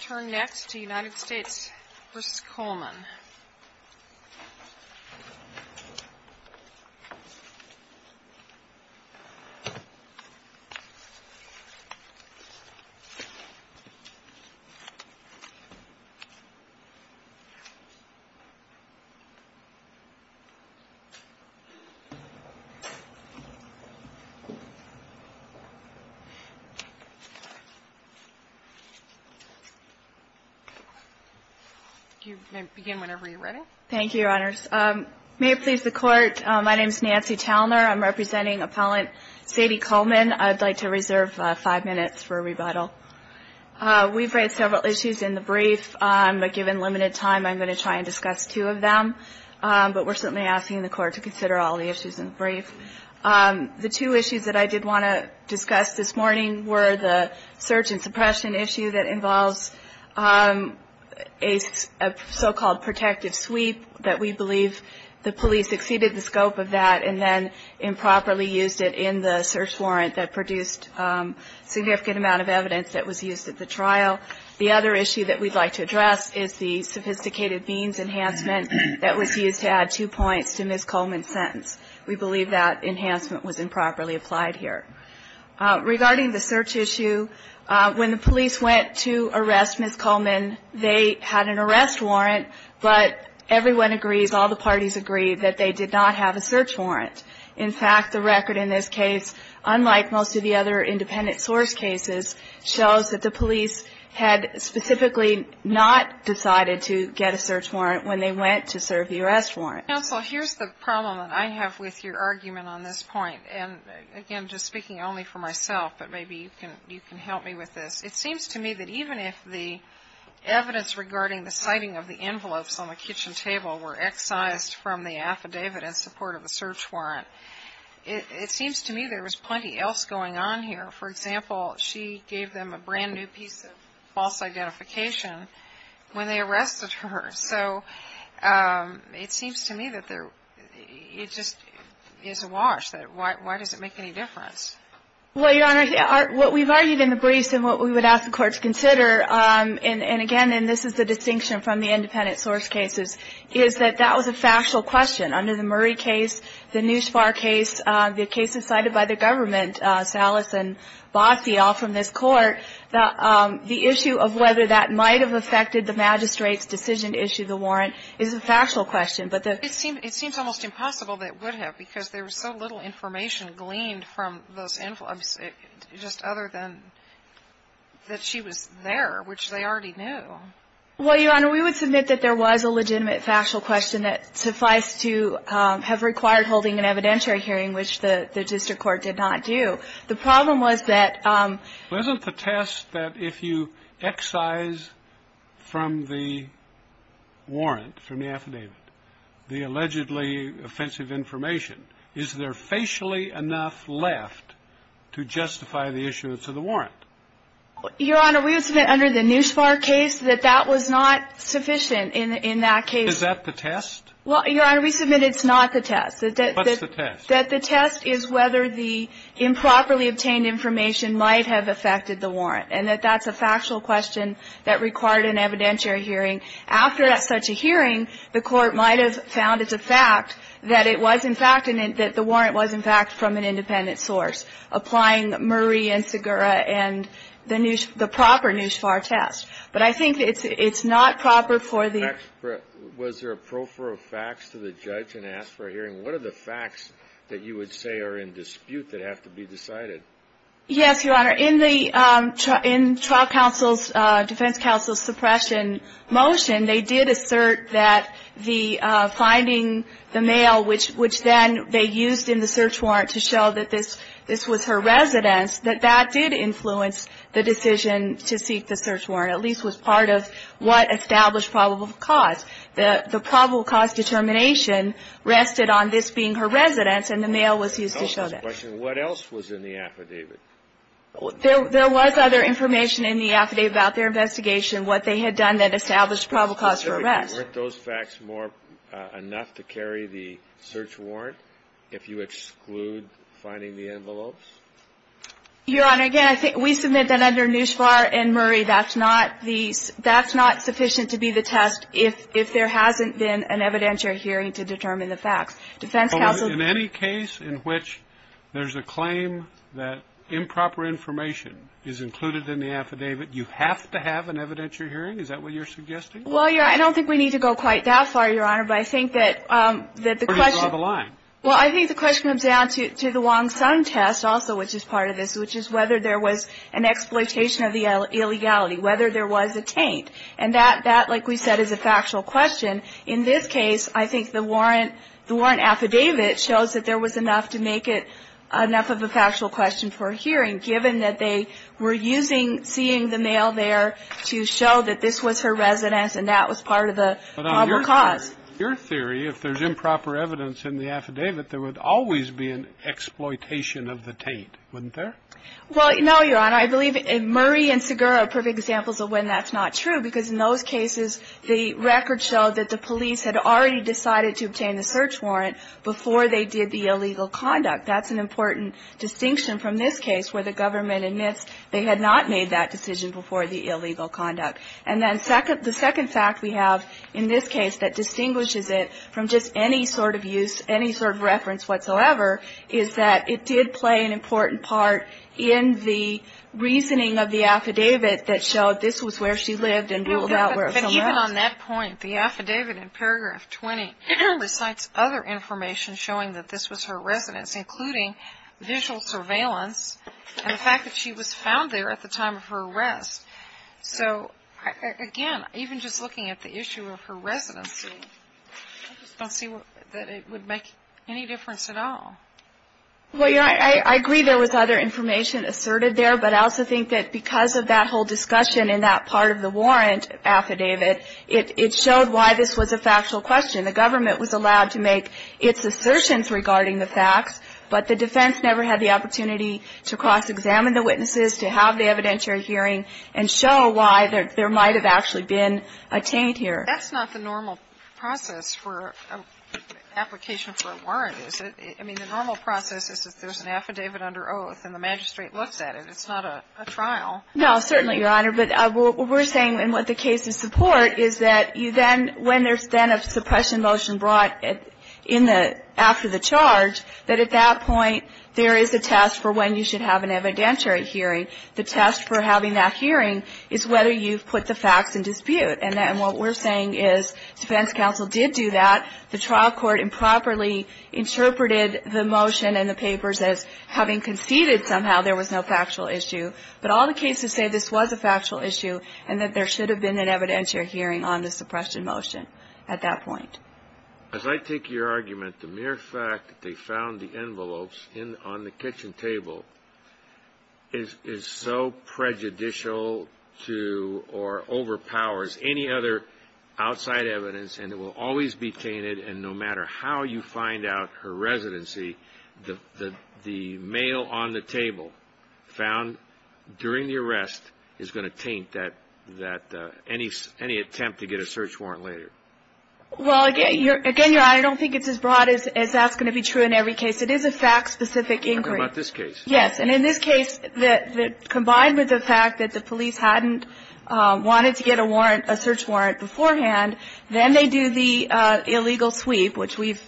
Turn next to United States v. Coleman You may begin whenever you're ready. Thank you, Your Honors. May it please the Court, my name is Nancy Talner. I'm representing appellant Sadie Coleman. I'd like to reserve five minutes for rebuttal. We've raised several issues in the brief, but given limited time, I'm going to try and discuss two of them. But we're certainly asking the Court to consider all the issues in the brief. The two issues that I did want to discuss this morning were the search and suppression issue that involves a so-called protective sweep that we believe the police exceeded the scope of that and then improperly used it in the search warrant that produced significant amount of evidence that was used at the trial. The other issue that we'd like to address is the sophisticated means enhancement that was used to add two points to Ms. Coleman's sentence. We believe that enhancement was improperly applied here. Regarding the search issue, when the police went to arrest Ms. Coleman, they had an arrest warrant, but everyone agrees, all the parties agree, that they did not have a search warrant. In fact, the record in this case, unlike most of the other independent source cases, shows that the police had specifically not decided to get a search warrant when they went to serve the arrest warrant. Counsel, here's the problem that I have with your argument on this point. And again, just speaking only for myself, but maybe you can help me with this. It seems to me that even if the evidence regarding the citing of the envelopes on the kitchen table were excised from the affidavit in support of the search warrant, it seems to me there was plenty else going on here. For example, she gave them a brand new piece of false identification when they arrested her. So it seems to me that it just is awash, that why does it make any difference? Well, Your Honor, what we've argued in the briefs and what we would ask the Court to consider, and again, and this is the distinction from the independent source cases, is that that was a factual question. Under the Murray case, the Neuspar case, the cases cited by the government, Salas and Bossio from this Court, the issue of whether that might have affected the magistrate's decision to issue the warrant is a factual question. But the ---- It seems almost impossible that it would have, because there was so little information gleaned from those envelopes, just other than that she was there, which they already knew. Well, Your Honor, we would submit that there was a legitimate factual question that suffice to have required holding an evidentiary hearing, which the district court did not do. The problem was that ---- Wasn't the test that if you excise from the warrant, from the affidavit, the allegedly offensive information, is there facially enough left to justify the issuance of the warrant? Your Honor, we would submit under the Neuspar case that that was not sufficient in that case. Is that the test? Well, Your Honor, we submit it's not the test. What's the test? That the test is whether the improperly obtained information might have affected the warrant, and that that's a factual question that required an evidentiary hearing. After such a hearing, the Court might have found it's a fact that it was, in fact, and that the warrant was, in fact, from an independent source, applying Murray and Segura and the proper Neuspar test. But I think it's not proper for the ---- Was there a pro for a fax to the judge and ask for a hearing? What are the facts that you would say are in dispute that have to be decided? Yes, Your Honor. In the trial counsel's, defense counsel's suppression motion, they did assert that the finding the mail, which then they used in the search warrant to show that this was her residence, that that did influence the decision to seek the search warrant, at least was part of what established probable cause. The probable cause determination rested on this being her residence, and the mail was used to show that. What else was in the affidavit? There was other information in the affidavit about their investigation, what they had done that established probable cause for arrest. Weren't those facts more enough to carry the search warrant if you exclude finding the envelopes? Your Honor, again, I think we submit that under Neuspar and Murray, that's not the ---- that's not sufficient to be the test if there hasn't been an evidentiary hearing to determine the facts. Defense counsel's ---- So in any case in which there's a claim that improper information is included in the affidavit, you have to have an evidentiary hearing? Is that what you're suggesting? Well, Your Honor, I don't think we need to go quite that far, Your Honor, but I think that the question ---- Or you draw the line. Well, I think the question comes down to the Wong-Sun test also, which is part of this, which is whether there was an exploitation of the illegality, whether there was a taint. And that, like we said, is a factual question. In this case, I think the warrant affidavit shows that there was enough to make it enough of a factual question for a hearing, given that they were using seeing the mail there to show that this was her residence and that was part of the probable cause. Your theory, if there's improper evidence in the affidavit, there would always be an exploitation of the taint, wouldn't there? Well, no, Your Honor. I believe Murray and Segura are perfect examples of when that's not true, because in those cases, the record showed that the police had already decided to obtain the search warrant before they did the illegal conduct. That's an important distinction from this case, where the government admits they had not made that decision before the illegal conduct. And then the second fact we have in this case that distinguishes it from just any sort of use, any sort of reference whatsoever, is that it did play an important part in the reasoning of the affidavit that showed this was where she lived and ruled out where someone else lived. But even on that point, the affidavit in paragraph 20 recites other information showing that this was her residence, including visual surveillance and the fact that she was found there at the time of her arrest. So, again, even just looking at the issue of her residency, I just don't see that it would make any difference at all. Well, Your Honor, I agree there was other information asserted there, but I also think that because of that whole discussion in that part of the warrant affidavit, it showed why this was a factual question. The government was allowed to make its assertions regarding the facts, but the evidentiary hearing and show why there might have actually been a taint here. That's not the normal process for an application for a warrant, is it? I mean, the normal process is if there's an affidavit under oath and the magistrate looks at it. It's not a trial. No, certainly, Your Honor. But what we're saying in the case of support is that you then, when there's then a suppression motion brought in the – after the charge, that at that point there is a test for when you should have an evidentiary hearing. The test for having that hearing is whether you've put the facts in dispute. And what we're saying is defense counsel did do that. The trial court improperly interpreted the motion and the papers as having conceded somehow there was no factual issue. But all the cases say this was a factual issue and that there should have been an evidentiary hearing on the suppression motion at that point. As I take your argument, the mere fact that they found the envelopes on the kitchen table is so prejudicial to or overpowers any other outside evidence, and it will always be tainted, and no matter how you find out her residency, the mail on the table found during the arrest is going to taint that – any attempt to get a search warrant later. Well, again, I don't think it's as broad as that's going to be true in every case. It is a fact-specific inquiry. I'm talking about this case. Yes. And in this case, combined with the fact that the police hadn't wanted to get a warrant – a search warrant beforehand, then they do the illegal sweep, which we've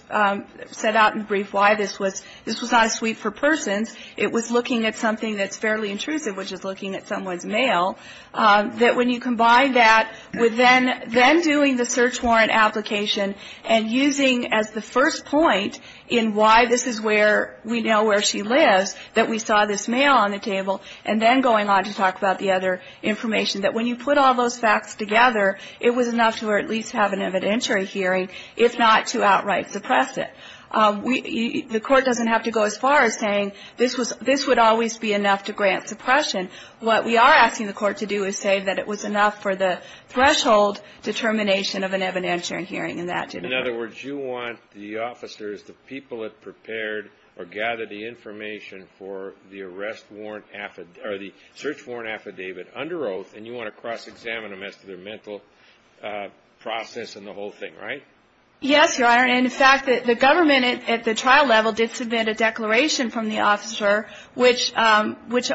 set out in brief why this was – this was not a sweep for persons. It was looking at something that's fairly intrusive, which is looking at someone's that when you combine that with then doing the search warrant application and using as the first point in why this is where we know where she lives, that we saw this mail on the table, and then going on to talk about the other information, that when you put all those facts together, it was enough to at least have an evidentiary hearing, if not to outright suppress it. The Court doesn't have to go as far as saying this would always be enough to grant suppression. What we are asking the Court to do is say that it was enough for the threshold determination of an evidentiary hearing, and that did occur. In other words, you want the officers, the people that prepared or gathered the information for the arrest warrant – or the search warrant affidavit under oath, and you want to cross-examine them as to their mental process and the whole thing, right? Yes, Your Honor. And, in fact, the government at the trial level did submit a declaration from the officer, which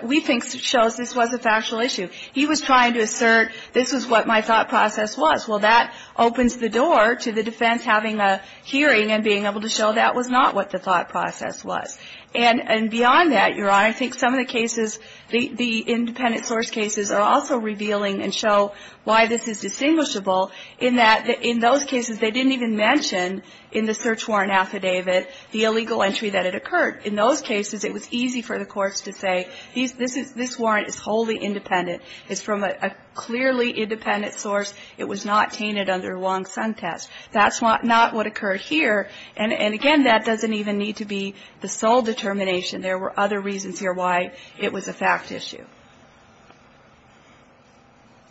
we think shows this was a factual issue. He was trying to assert this was what my thought process was. Well, that opens the door to the defense having a hearing and being able to show that was not what the thought process was. And beyond that, Your Honor, I think some of the cases, the independent source cases are also revealing and show why this is distinguishable, in that in those cases they didn't even mention in the search warrant affidavit the illegal entry that had occurred. In those cases, it was easy for the courts to say, this warrant is wholly independent. It's from a clearly independent source. It was not tainted under Wong-Sun test. That's not what occurred here. And, again, that doesn't even need to be the sole determination. There were other reasons here why it was a fact issue.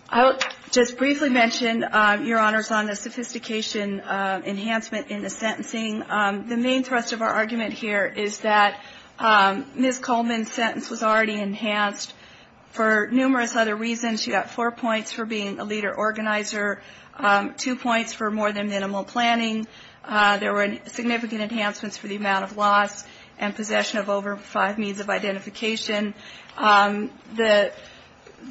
I will just briefly mention, Your Honors, on the sophistication enhancement in the sentencing. The main thrust of our argument here is that Ms. Coleman's sentence was already enhanced for numerous other reasons. She got four points for being a leader organizer, two points for more than minimal planning. There were significant enhancements for the amount of loss and possession of over five means of identification.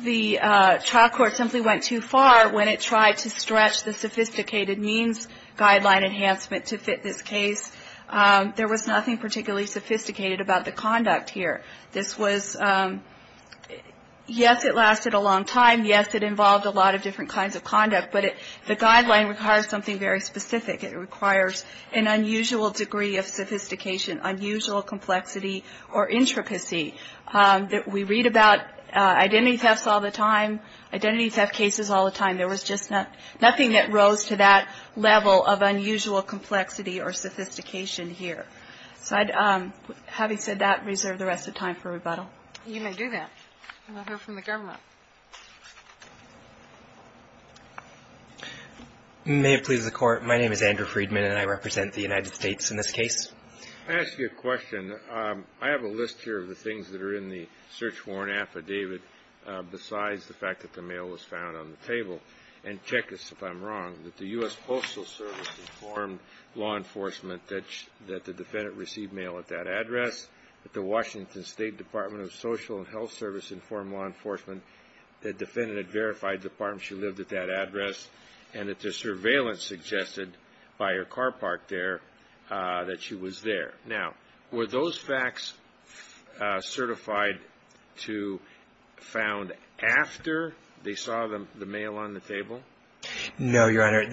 The trial court simply went too far when it tried to stretch the sophisticated means guideline enhancement to fit this case. There was nothing particularly sophisticated about the conduct here. This was, yes, it lasted a long time. Yes, it involved a lot of different kinds of conduct. But the guideline requires something very specific. It requires an unusual degree of sophistication, unusual complexity or intricacy. We read about identity thefts all the time, identity theft cases all the time. There was just nothing that rose to that level of unusual complexity or sophistication here. So I'd, having said that, reserve the rest of the time for rebuttal. You may do that. We'll hear from the government. May it please the Court. My name is Andrew Friedman, and I represent the United States in this case. Can I ask you a question? I have a list here of the things that are in the search warrant affidavit besides the fact that the mail was found on the table. And check this if I'm wrong, that the U.S. Postal Service informed law enforcement that the defendant received mail at that address, that the Washington State Department of Social and Health Service informed law enforcement that the defendant had verified the part where she lived at that address, and that the surveillance suggested by her car parked there that she was there. Now, were those facts certified to found after they saw the mail on the table? No, Your Honor.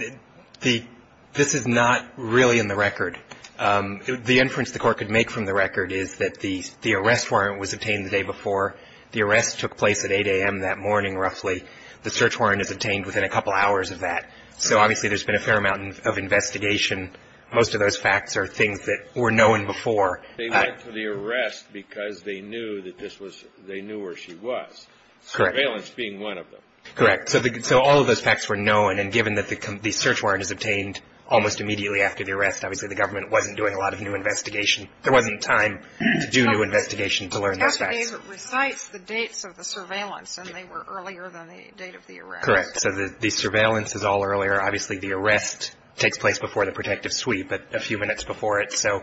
This is not really in the record. The inference the Court could make from the record is that the arrest warrant was obtained the day before. The arrest took place at 8 a.m. that morning, roughly. The search warrant is obtained within a couple hours of that. So obviously, there's been a fair amount of investigation. Most of those facts are things that were known before. They went to the arrest because they knew that this was they knew where she was. Correct. Surveillance being one of them. Correct. So all of those facts were known. And given that the search warrant is obtained almost immediately after the arrest, obviously, the government wasn't doing a lot of new investigation. There wasn't time to do new investigation to learn those facts. The affidavit recites the dates of the surveillance, and they were earlier than the date of the arrest. Correct. So the surveillance is all earlier. Obviously, the arrest takes place before the protective suite, but a few minutes before it. So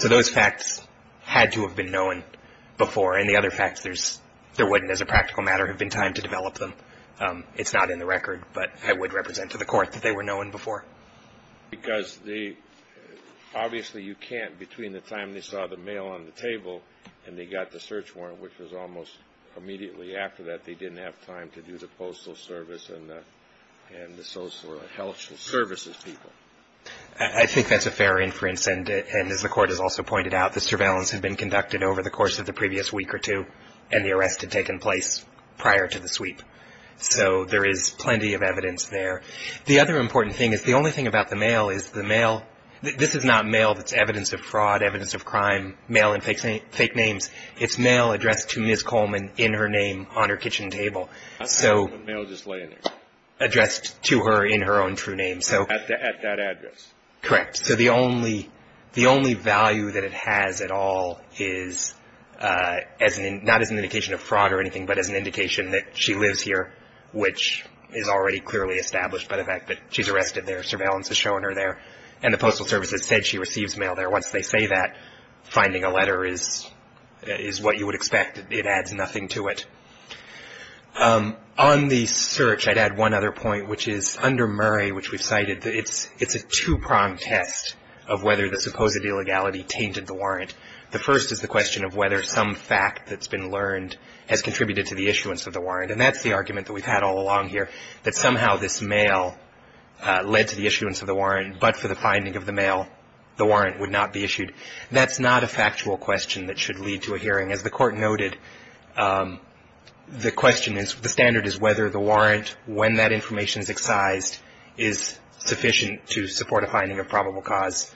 those facts had to have been known before. And the other facts, there wouldn't, as a practical matter, have been time to develop them. It's not in the record, but I would represent to the Court that they were known before. Because obviously, you can't, between the time they saw the mail on the table and they got the search warrant, which was almost immediately after that, they didn't have time to do the postal service and the social services people. I think that's a fair inference. And as the Court has also pointed out, the surveillance had been conducted over the course of the previous week or two, and the arrest had taken place prior to the sweep. So there is plenty of evidence there. The other important thing is the only thing about the mail is the mail, this is not mail that's evidence of fraud, evidence of crime, mail in fake names. It's mail addressed to Ms. Coleman in her name on her kitchen table. I see the mail just laying there. Addressed to her in her own true name. At that address. Correct. So the only value that it has at all is not as an indication of fraud or anything, but as an indication that she lives here, which is already clearly established by the fact that she's arrested there. Surveillance has shown her there. And the postal service has said she receives mail there. Once they say that, finding a letter is what you would expect. It adds nothing to it. On the search, I'd add one other point, which is under Murray, which we've cited, it's a two-pronged test of whether the supposed illegality tainted the warrant. The first is the question of whether some fact that's been learned has contributed to the issuance of the warrant. And that's the argument that we've had all along here, but for the finding of the mail, the warrant would not be issued. That's not a factual question that should lead to a hearing. As the Court noted, the question is the standard is whether the warrant, when that information is excised, is sufficient to support a finding of probable cause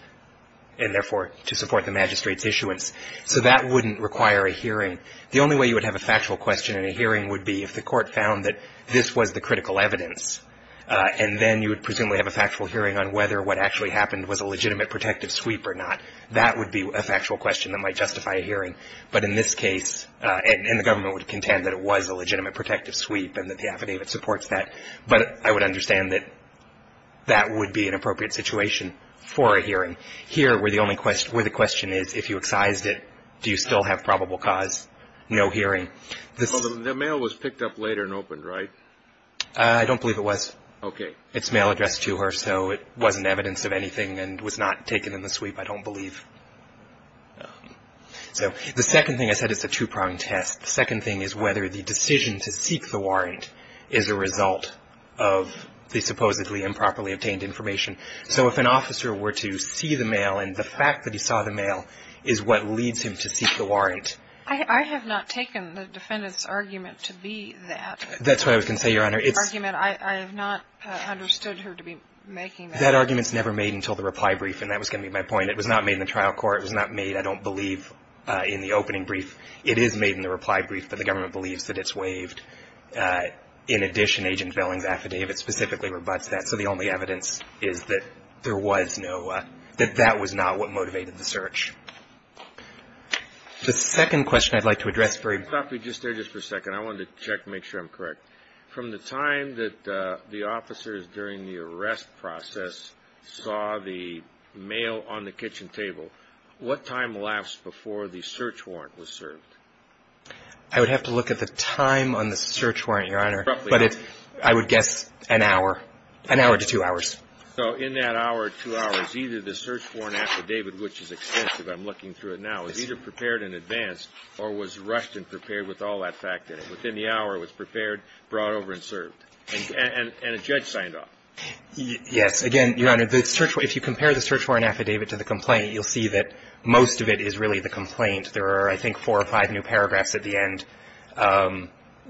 and therefore to support the magistrate's issuance. So that wouldn't require a hearing. The only way you would have a factual question in a hearing would be if the Court found that this was the critical evidence and then you would presumably have a factual hearing on whether what actually happened was a legitimate protective sweep or not. That would be a factual question that might justify a hearing. But in this case, and the government would contend that it was a legitimate protective sweep and that the affidavit supports that, but I would understand that that would be an appropriate situation for a hearing. Here, where the question is, if you excised it, do you still have probable cause? No hearing. The mail was picked up later and opened, right? I don't believe it was. Okay. It's mail addressed to her, so it wasn't evidence of anything and was not taken in the sweep, I don't believe. So the second thing I said is it's a two-prong test. The second thing is whether the decision to seek the warrant is a result of the supposedly improperly obtained information. So if an officer were to see the mail and the fact that he saw the mail is what leads him to seek the warrant. I have not taken the defendant's argument to be that. That's what I was going to say, Your Honor. The argument, I have not understood her to be making that. That argument's never made until the reply brief, and that was going to be my point. It was not made in the trial court. It was not made, I don't believe, in the opening brief. It is made in the reply brief, but the government believes that it's waived. In addition, Agent Velling's affidavit specifically rebutts that. So the only evidence is that there was no – that that was not what motivated the search. The second question I'd like to address for you. Let me stop you just there just for a second. I wanted to check and make sure I'm correct. From the time that the officers during the arrest process saw the mail on the kitchen table, what time lasts before the search warrant was served? I would have to look at the time on the search warrant, Your Honor. But I would guess an hour, an hour to two hours. So in that hour or two hours, either the search warrant affidavit, which is extensive, I'm looking through it now, is either prepared in advance or was rushed and prepared with all that fact in it. Within the hour, it was prepared, brought over, and served. And a judge signed off. Yes. Again, Your Honor, if you compare the search warrant affidavit to the complaint, you'll see that most of it is really the complaint. There are, I think, four or five new paragraphs at the end.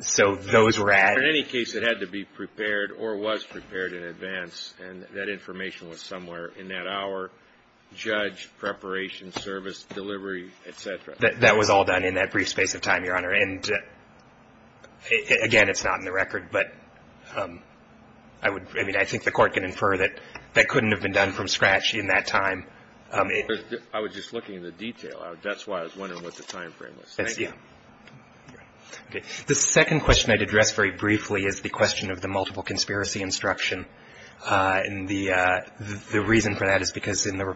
So those were added. In any case, it had to be prepared or was prepared in advance, and that information was somewhere in that hour, judge, preparation, service, delivery, et cetera. That was all done in that brief space of time, Your Honor. And, again, it's not in the record, but I would, I mean, I think the Court can infer that that couldn't have been done from scratch in that time. I was just looking at the detail. That's why I was wondering what the time frame was. Thank you. Okay. The second question I'd address very briefly is the question of the multiple conspiracy instruction. And the reason for that is because the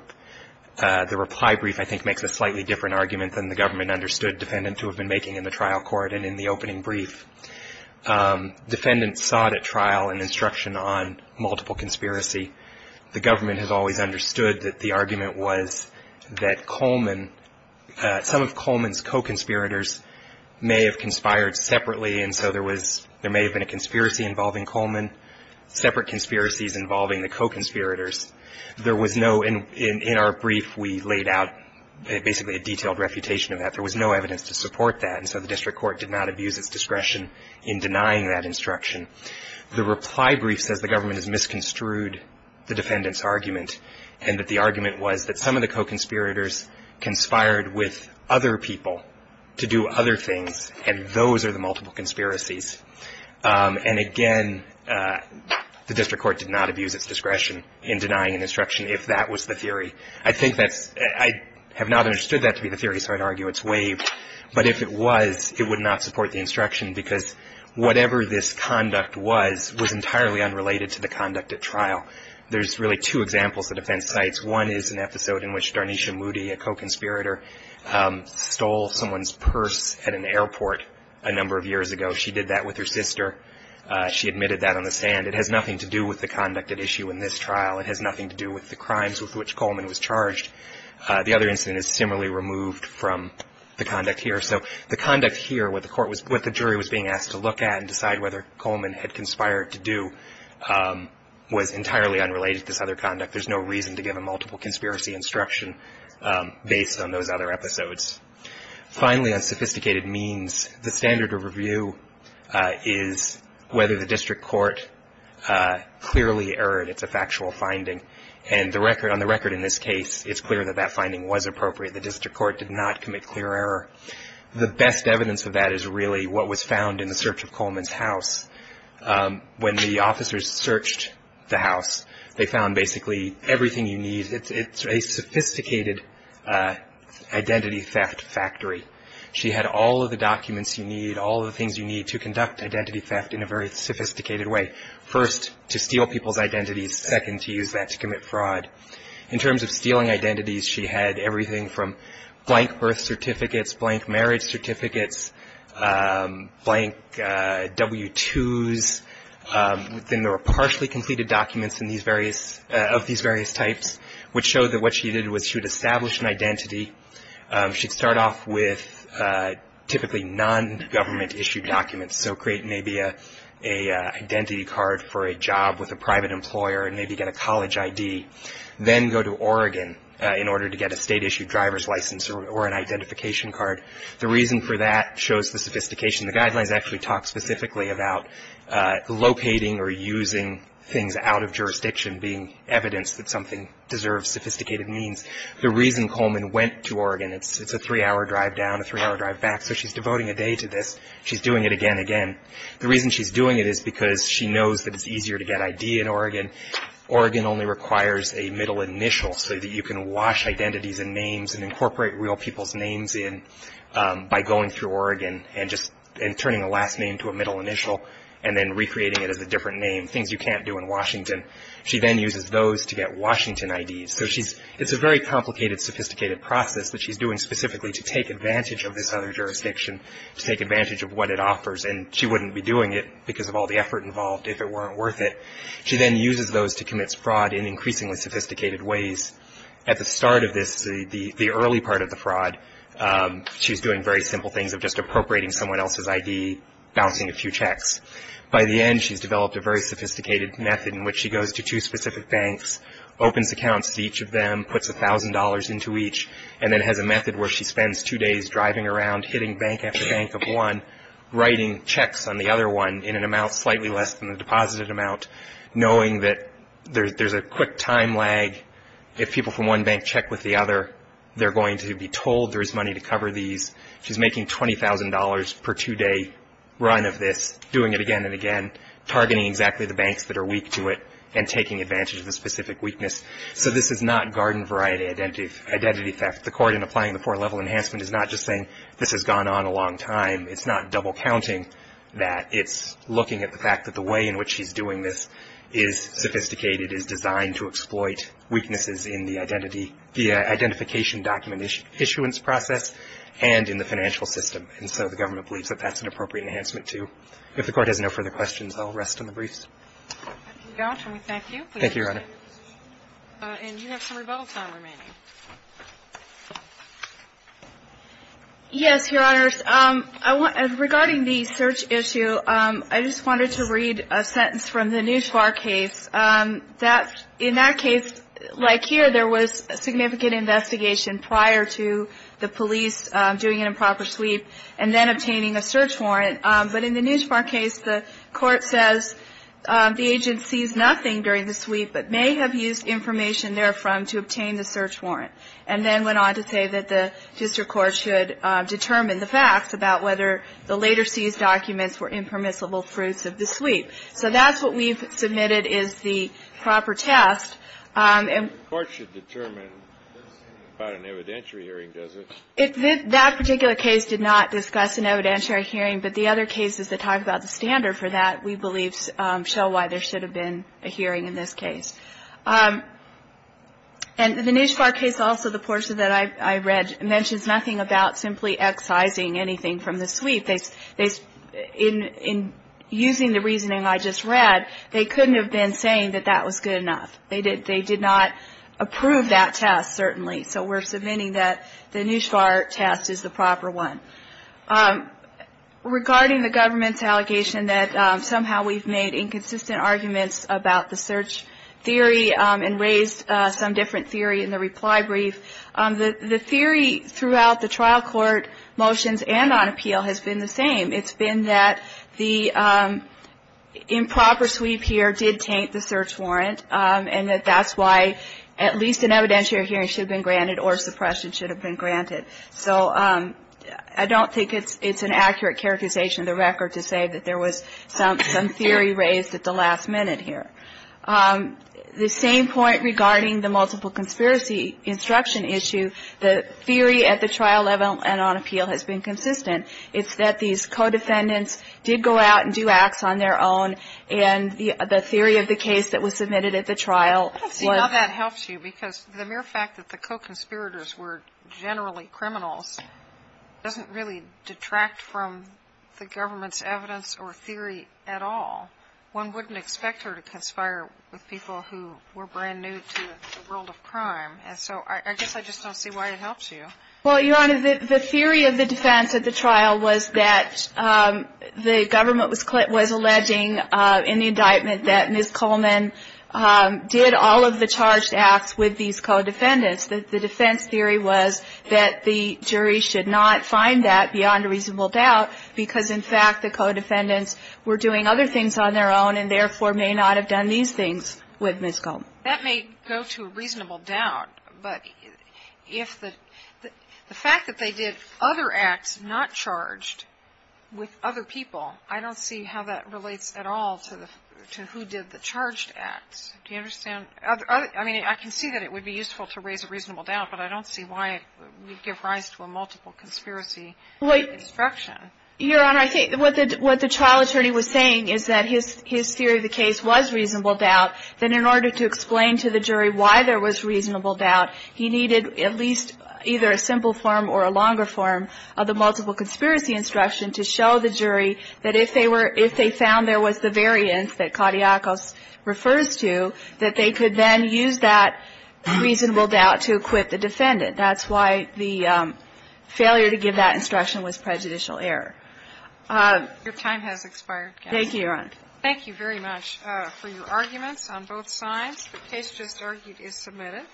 reply brief, I think, makes a slightly different argument than the government understood defendants would have been making in the trial court and in the opening brief. Defendants sought at trial an instruction on multiple conspiracy. The government has always understood that the argument was that Coleman, some of Coleman's co-conspirators may have conspired separately, and so there was, there may have been a conspiracy involving Coleman, separate conspiracies involving the co-conspirators. There was no, in our brief, we laid out basically a detailed refutation of that. There was no evidence to support that, and so the district court did not abuse its discretion in denying that instruction. The reply brief says the government has misconstrued the defendant's argument and that the argument was that some of the co-conspirators conspired with other people to do other things, and those are the multiple conspiracies. And, again, the district court did not abuse its discretion in denying an instruction if that was the theory. I think that's, I have not understood that to be the theory, so I'd argue it's waived. But if it was, it would not support the instruction because whatever this conduct was was entirely unrelated to the conduct at trial. There's really two examples the defense cites. One is an episode in which Darnisha Moody, a co-conspirator, stole someone's purse at an airport a number of years ago. She did that with her sister. She admitted that on the stand. It has nothing to do with the conduct at issue in this trial. It has nothing to do with the crimes with which Coleman was charged. The other incident is similarly removed from the conduct here. So the conduct here, what the court was, what the jury was being asked to look at and decide whether Coleman had conspired to do was entirely unrelated to this other conduct. There's no reason to give a multiple conspiracy instruction based on those other episodes. Finally, on sophisticated means, the standard of review is whether the district court clearly erred. It's a factual finding. And the record, on the record in this case, it's clear that that finding was appropriate. The district court did not commit clear error. The best evidence of that is really what was found in the search of Coleman's house. When the officers searched the house, they found basically everything you need. It's a sophisticated identity theft factory. She had all of the documents you need, all of the things you need to conduct identity theft in a very sophisticated way. First, to steal people's identities. Second, to use that to commit fraud. In terms of stealing identities, she had everything from blank birth certificates, blank marriage certificates, blank W-2s. Then there were partially completed documents of these various types, which showed that what she did was she would establish an identity. She'd start off with typically nongovernment-issued documents, so create maybe an identity card for a job with a private employer and maybe get a college ID. Then go to Oregon in order to get a State-issued driver's license or an identification card. The reason for that shows the sophistication. The Guidelines actually talk specifically about locating or using things out of jurisdiction being evidence that something deserves sophisticated means. The reason Coleman went to Oregon, it's a three-hour drive down, a three-hour drive back, so she's devoting a day to this. She's doing it again and again. The reason she's doing it is because she knows that it's easier to get ID in Oregon. Oregon only requires a middle initial so that you can wash identities and names and incorporate real people's names in by going through Oregon and just turning a last name to a middle initial and then recreating it as a different name, things you can't do in Washington. She then uses those to get Washington IDs. So it's a very complicated, sophisticated process that she's doing specifically to take advantage of this other jurisdiction, to take advantage of what it offers. And she wouldn't be doing it because of all the effort involved if it weren't worth it. She then uses those to commit fraud in increasingly sophisticated ways. At the start of this, the early part of the fraud, she's doing very simple things of just appropriating someone else's ID, bouncing a few checks. By the end, she's developed a very sophisticated method in which she goes to two specific banks, opens accounts to each of them, puts $1,000 into each, and then has a method where she spends two days driving around, hitting bank after bank of one, writing checks on the other one in an amount slightly less than the deposited amount, knowing that there's a quick time lag. If people from one bank check with the other, they're going to be told there's money to cover these. She's making $20,000 per two-day run of this, doing it again and again, targeting exactly the banks that are weak to it and taking advantage of the specific weakness. So this is not garden variety identity theft. The Court, in applying the four-level enhancement, is not just saying this has gone on a long time. It's not double-counting that. It's looking at the fact that the way in which she's doing this is sophisticated, is designed to exploit weaknesses in the identity, the identification document issuance process and in the financial system. And so the government believes that that's an appropriate enhancement, too. If the Court has no further questions, I'll rest on the briefs. Thank you, Your Honor. And you have some rebuttal time remaining. Yes, Your Honors. Regarding the search issue, I just wanted to read a sentence from the Neuspar case. In that case, like here, there was a significant investigation prior to the police doing an improper sweep and then obtaining a search warrant. But in the Neuspar case, the Court says the agent sees nothing during the sweep but may have used information therefrom to obtain the search warrant, and then went on to say that the district court should determine the facts about whether the later seized documents were impermissible fruits of the sweep. So that's what we've submitted is the proper test. The Court should determine. It's not an evidentiary hearing, is it? That particular case did not discuss an evidentiary hearing, but the other cases that talk about the standard for that, we believe, show why there should have been a hearing in this case. And the Neuspar case, also the portion that I read, mentions nothing about simply excising anything from the sweep. In using the reasoning I just read, they couldn't have been saying that that was good enough. They did not approve that test, certainly. So we're submitting that the Neuspar test is the proper one. Regarding the government's allegation that somehow we've made inconsistent arguments about the search theory and raised some different theory in the reply brief, the theory throughout the trial court motions and on appeal has been the same. It's been that the improper sweep here did taint the search warrant and that that's why at least an evidentiary hearing should have been granted or suppression should have been granted. So I don't think it's an accurate characterization of the record to say that there was some theory raised at the last minute here. The same point regarding the multiple conspiracy instruction issue, the theory at the trial level and on appeal has been consistent. It's that these co-defendants did go out and do acts on their own, and the theory of the case that was submitted at the trial was. I don't see how that helps you because the mere fact that the co-conspirators were generally criminals doesn't really detract from the government's evidence or theory at all. One wouldn't expect her to conspire with people who were brand new to the world of crime. And so I guess I just don't see why it helps you. Well, Your Honor, the theory of the defense at the trial was that the government was alleging in the indictment that Ms. Coleman did all of the charged acts with these co-defendants. The defense theory was that the jury should not find that beyond a reasonable doubt because in fact the co-defendants were doing other things on their own and therefore may not have done these things with Ms. Coleman. That may go to a reasonable doubt, but if the fact that they did other acts not charged with other people, I don't see how that relates at all to who did the charged acts. Do you understand? I mean, I can see that it would be useful to raise a reasonable doubt, but I don't see why it would give rise to a multiple conspiracy instruction. Your Honor, I think what the trial attorney was saying is that his theory of the case was reasonable doubt, that in order to explain to the jury why there was reasonable doubt, he needed at least either a simple form or a longer form of the multiple conspiracy instruction to show the jury that if they found there was the variance that Claudiacos refers to, that they could then use that reasonable doubt to acquit the defendant. That's why the failure to give that instruction was prejudicial error. Your time has expired. Thank you, Your Honor. Thank you very much for your arguments on both sides. The case just argued is submitted.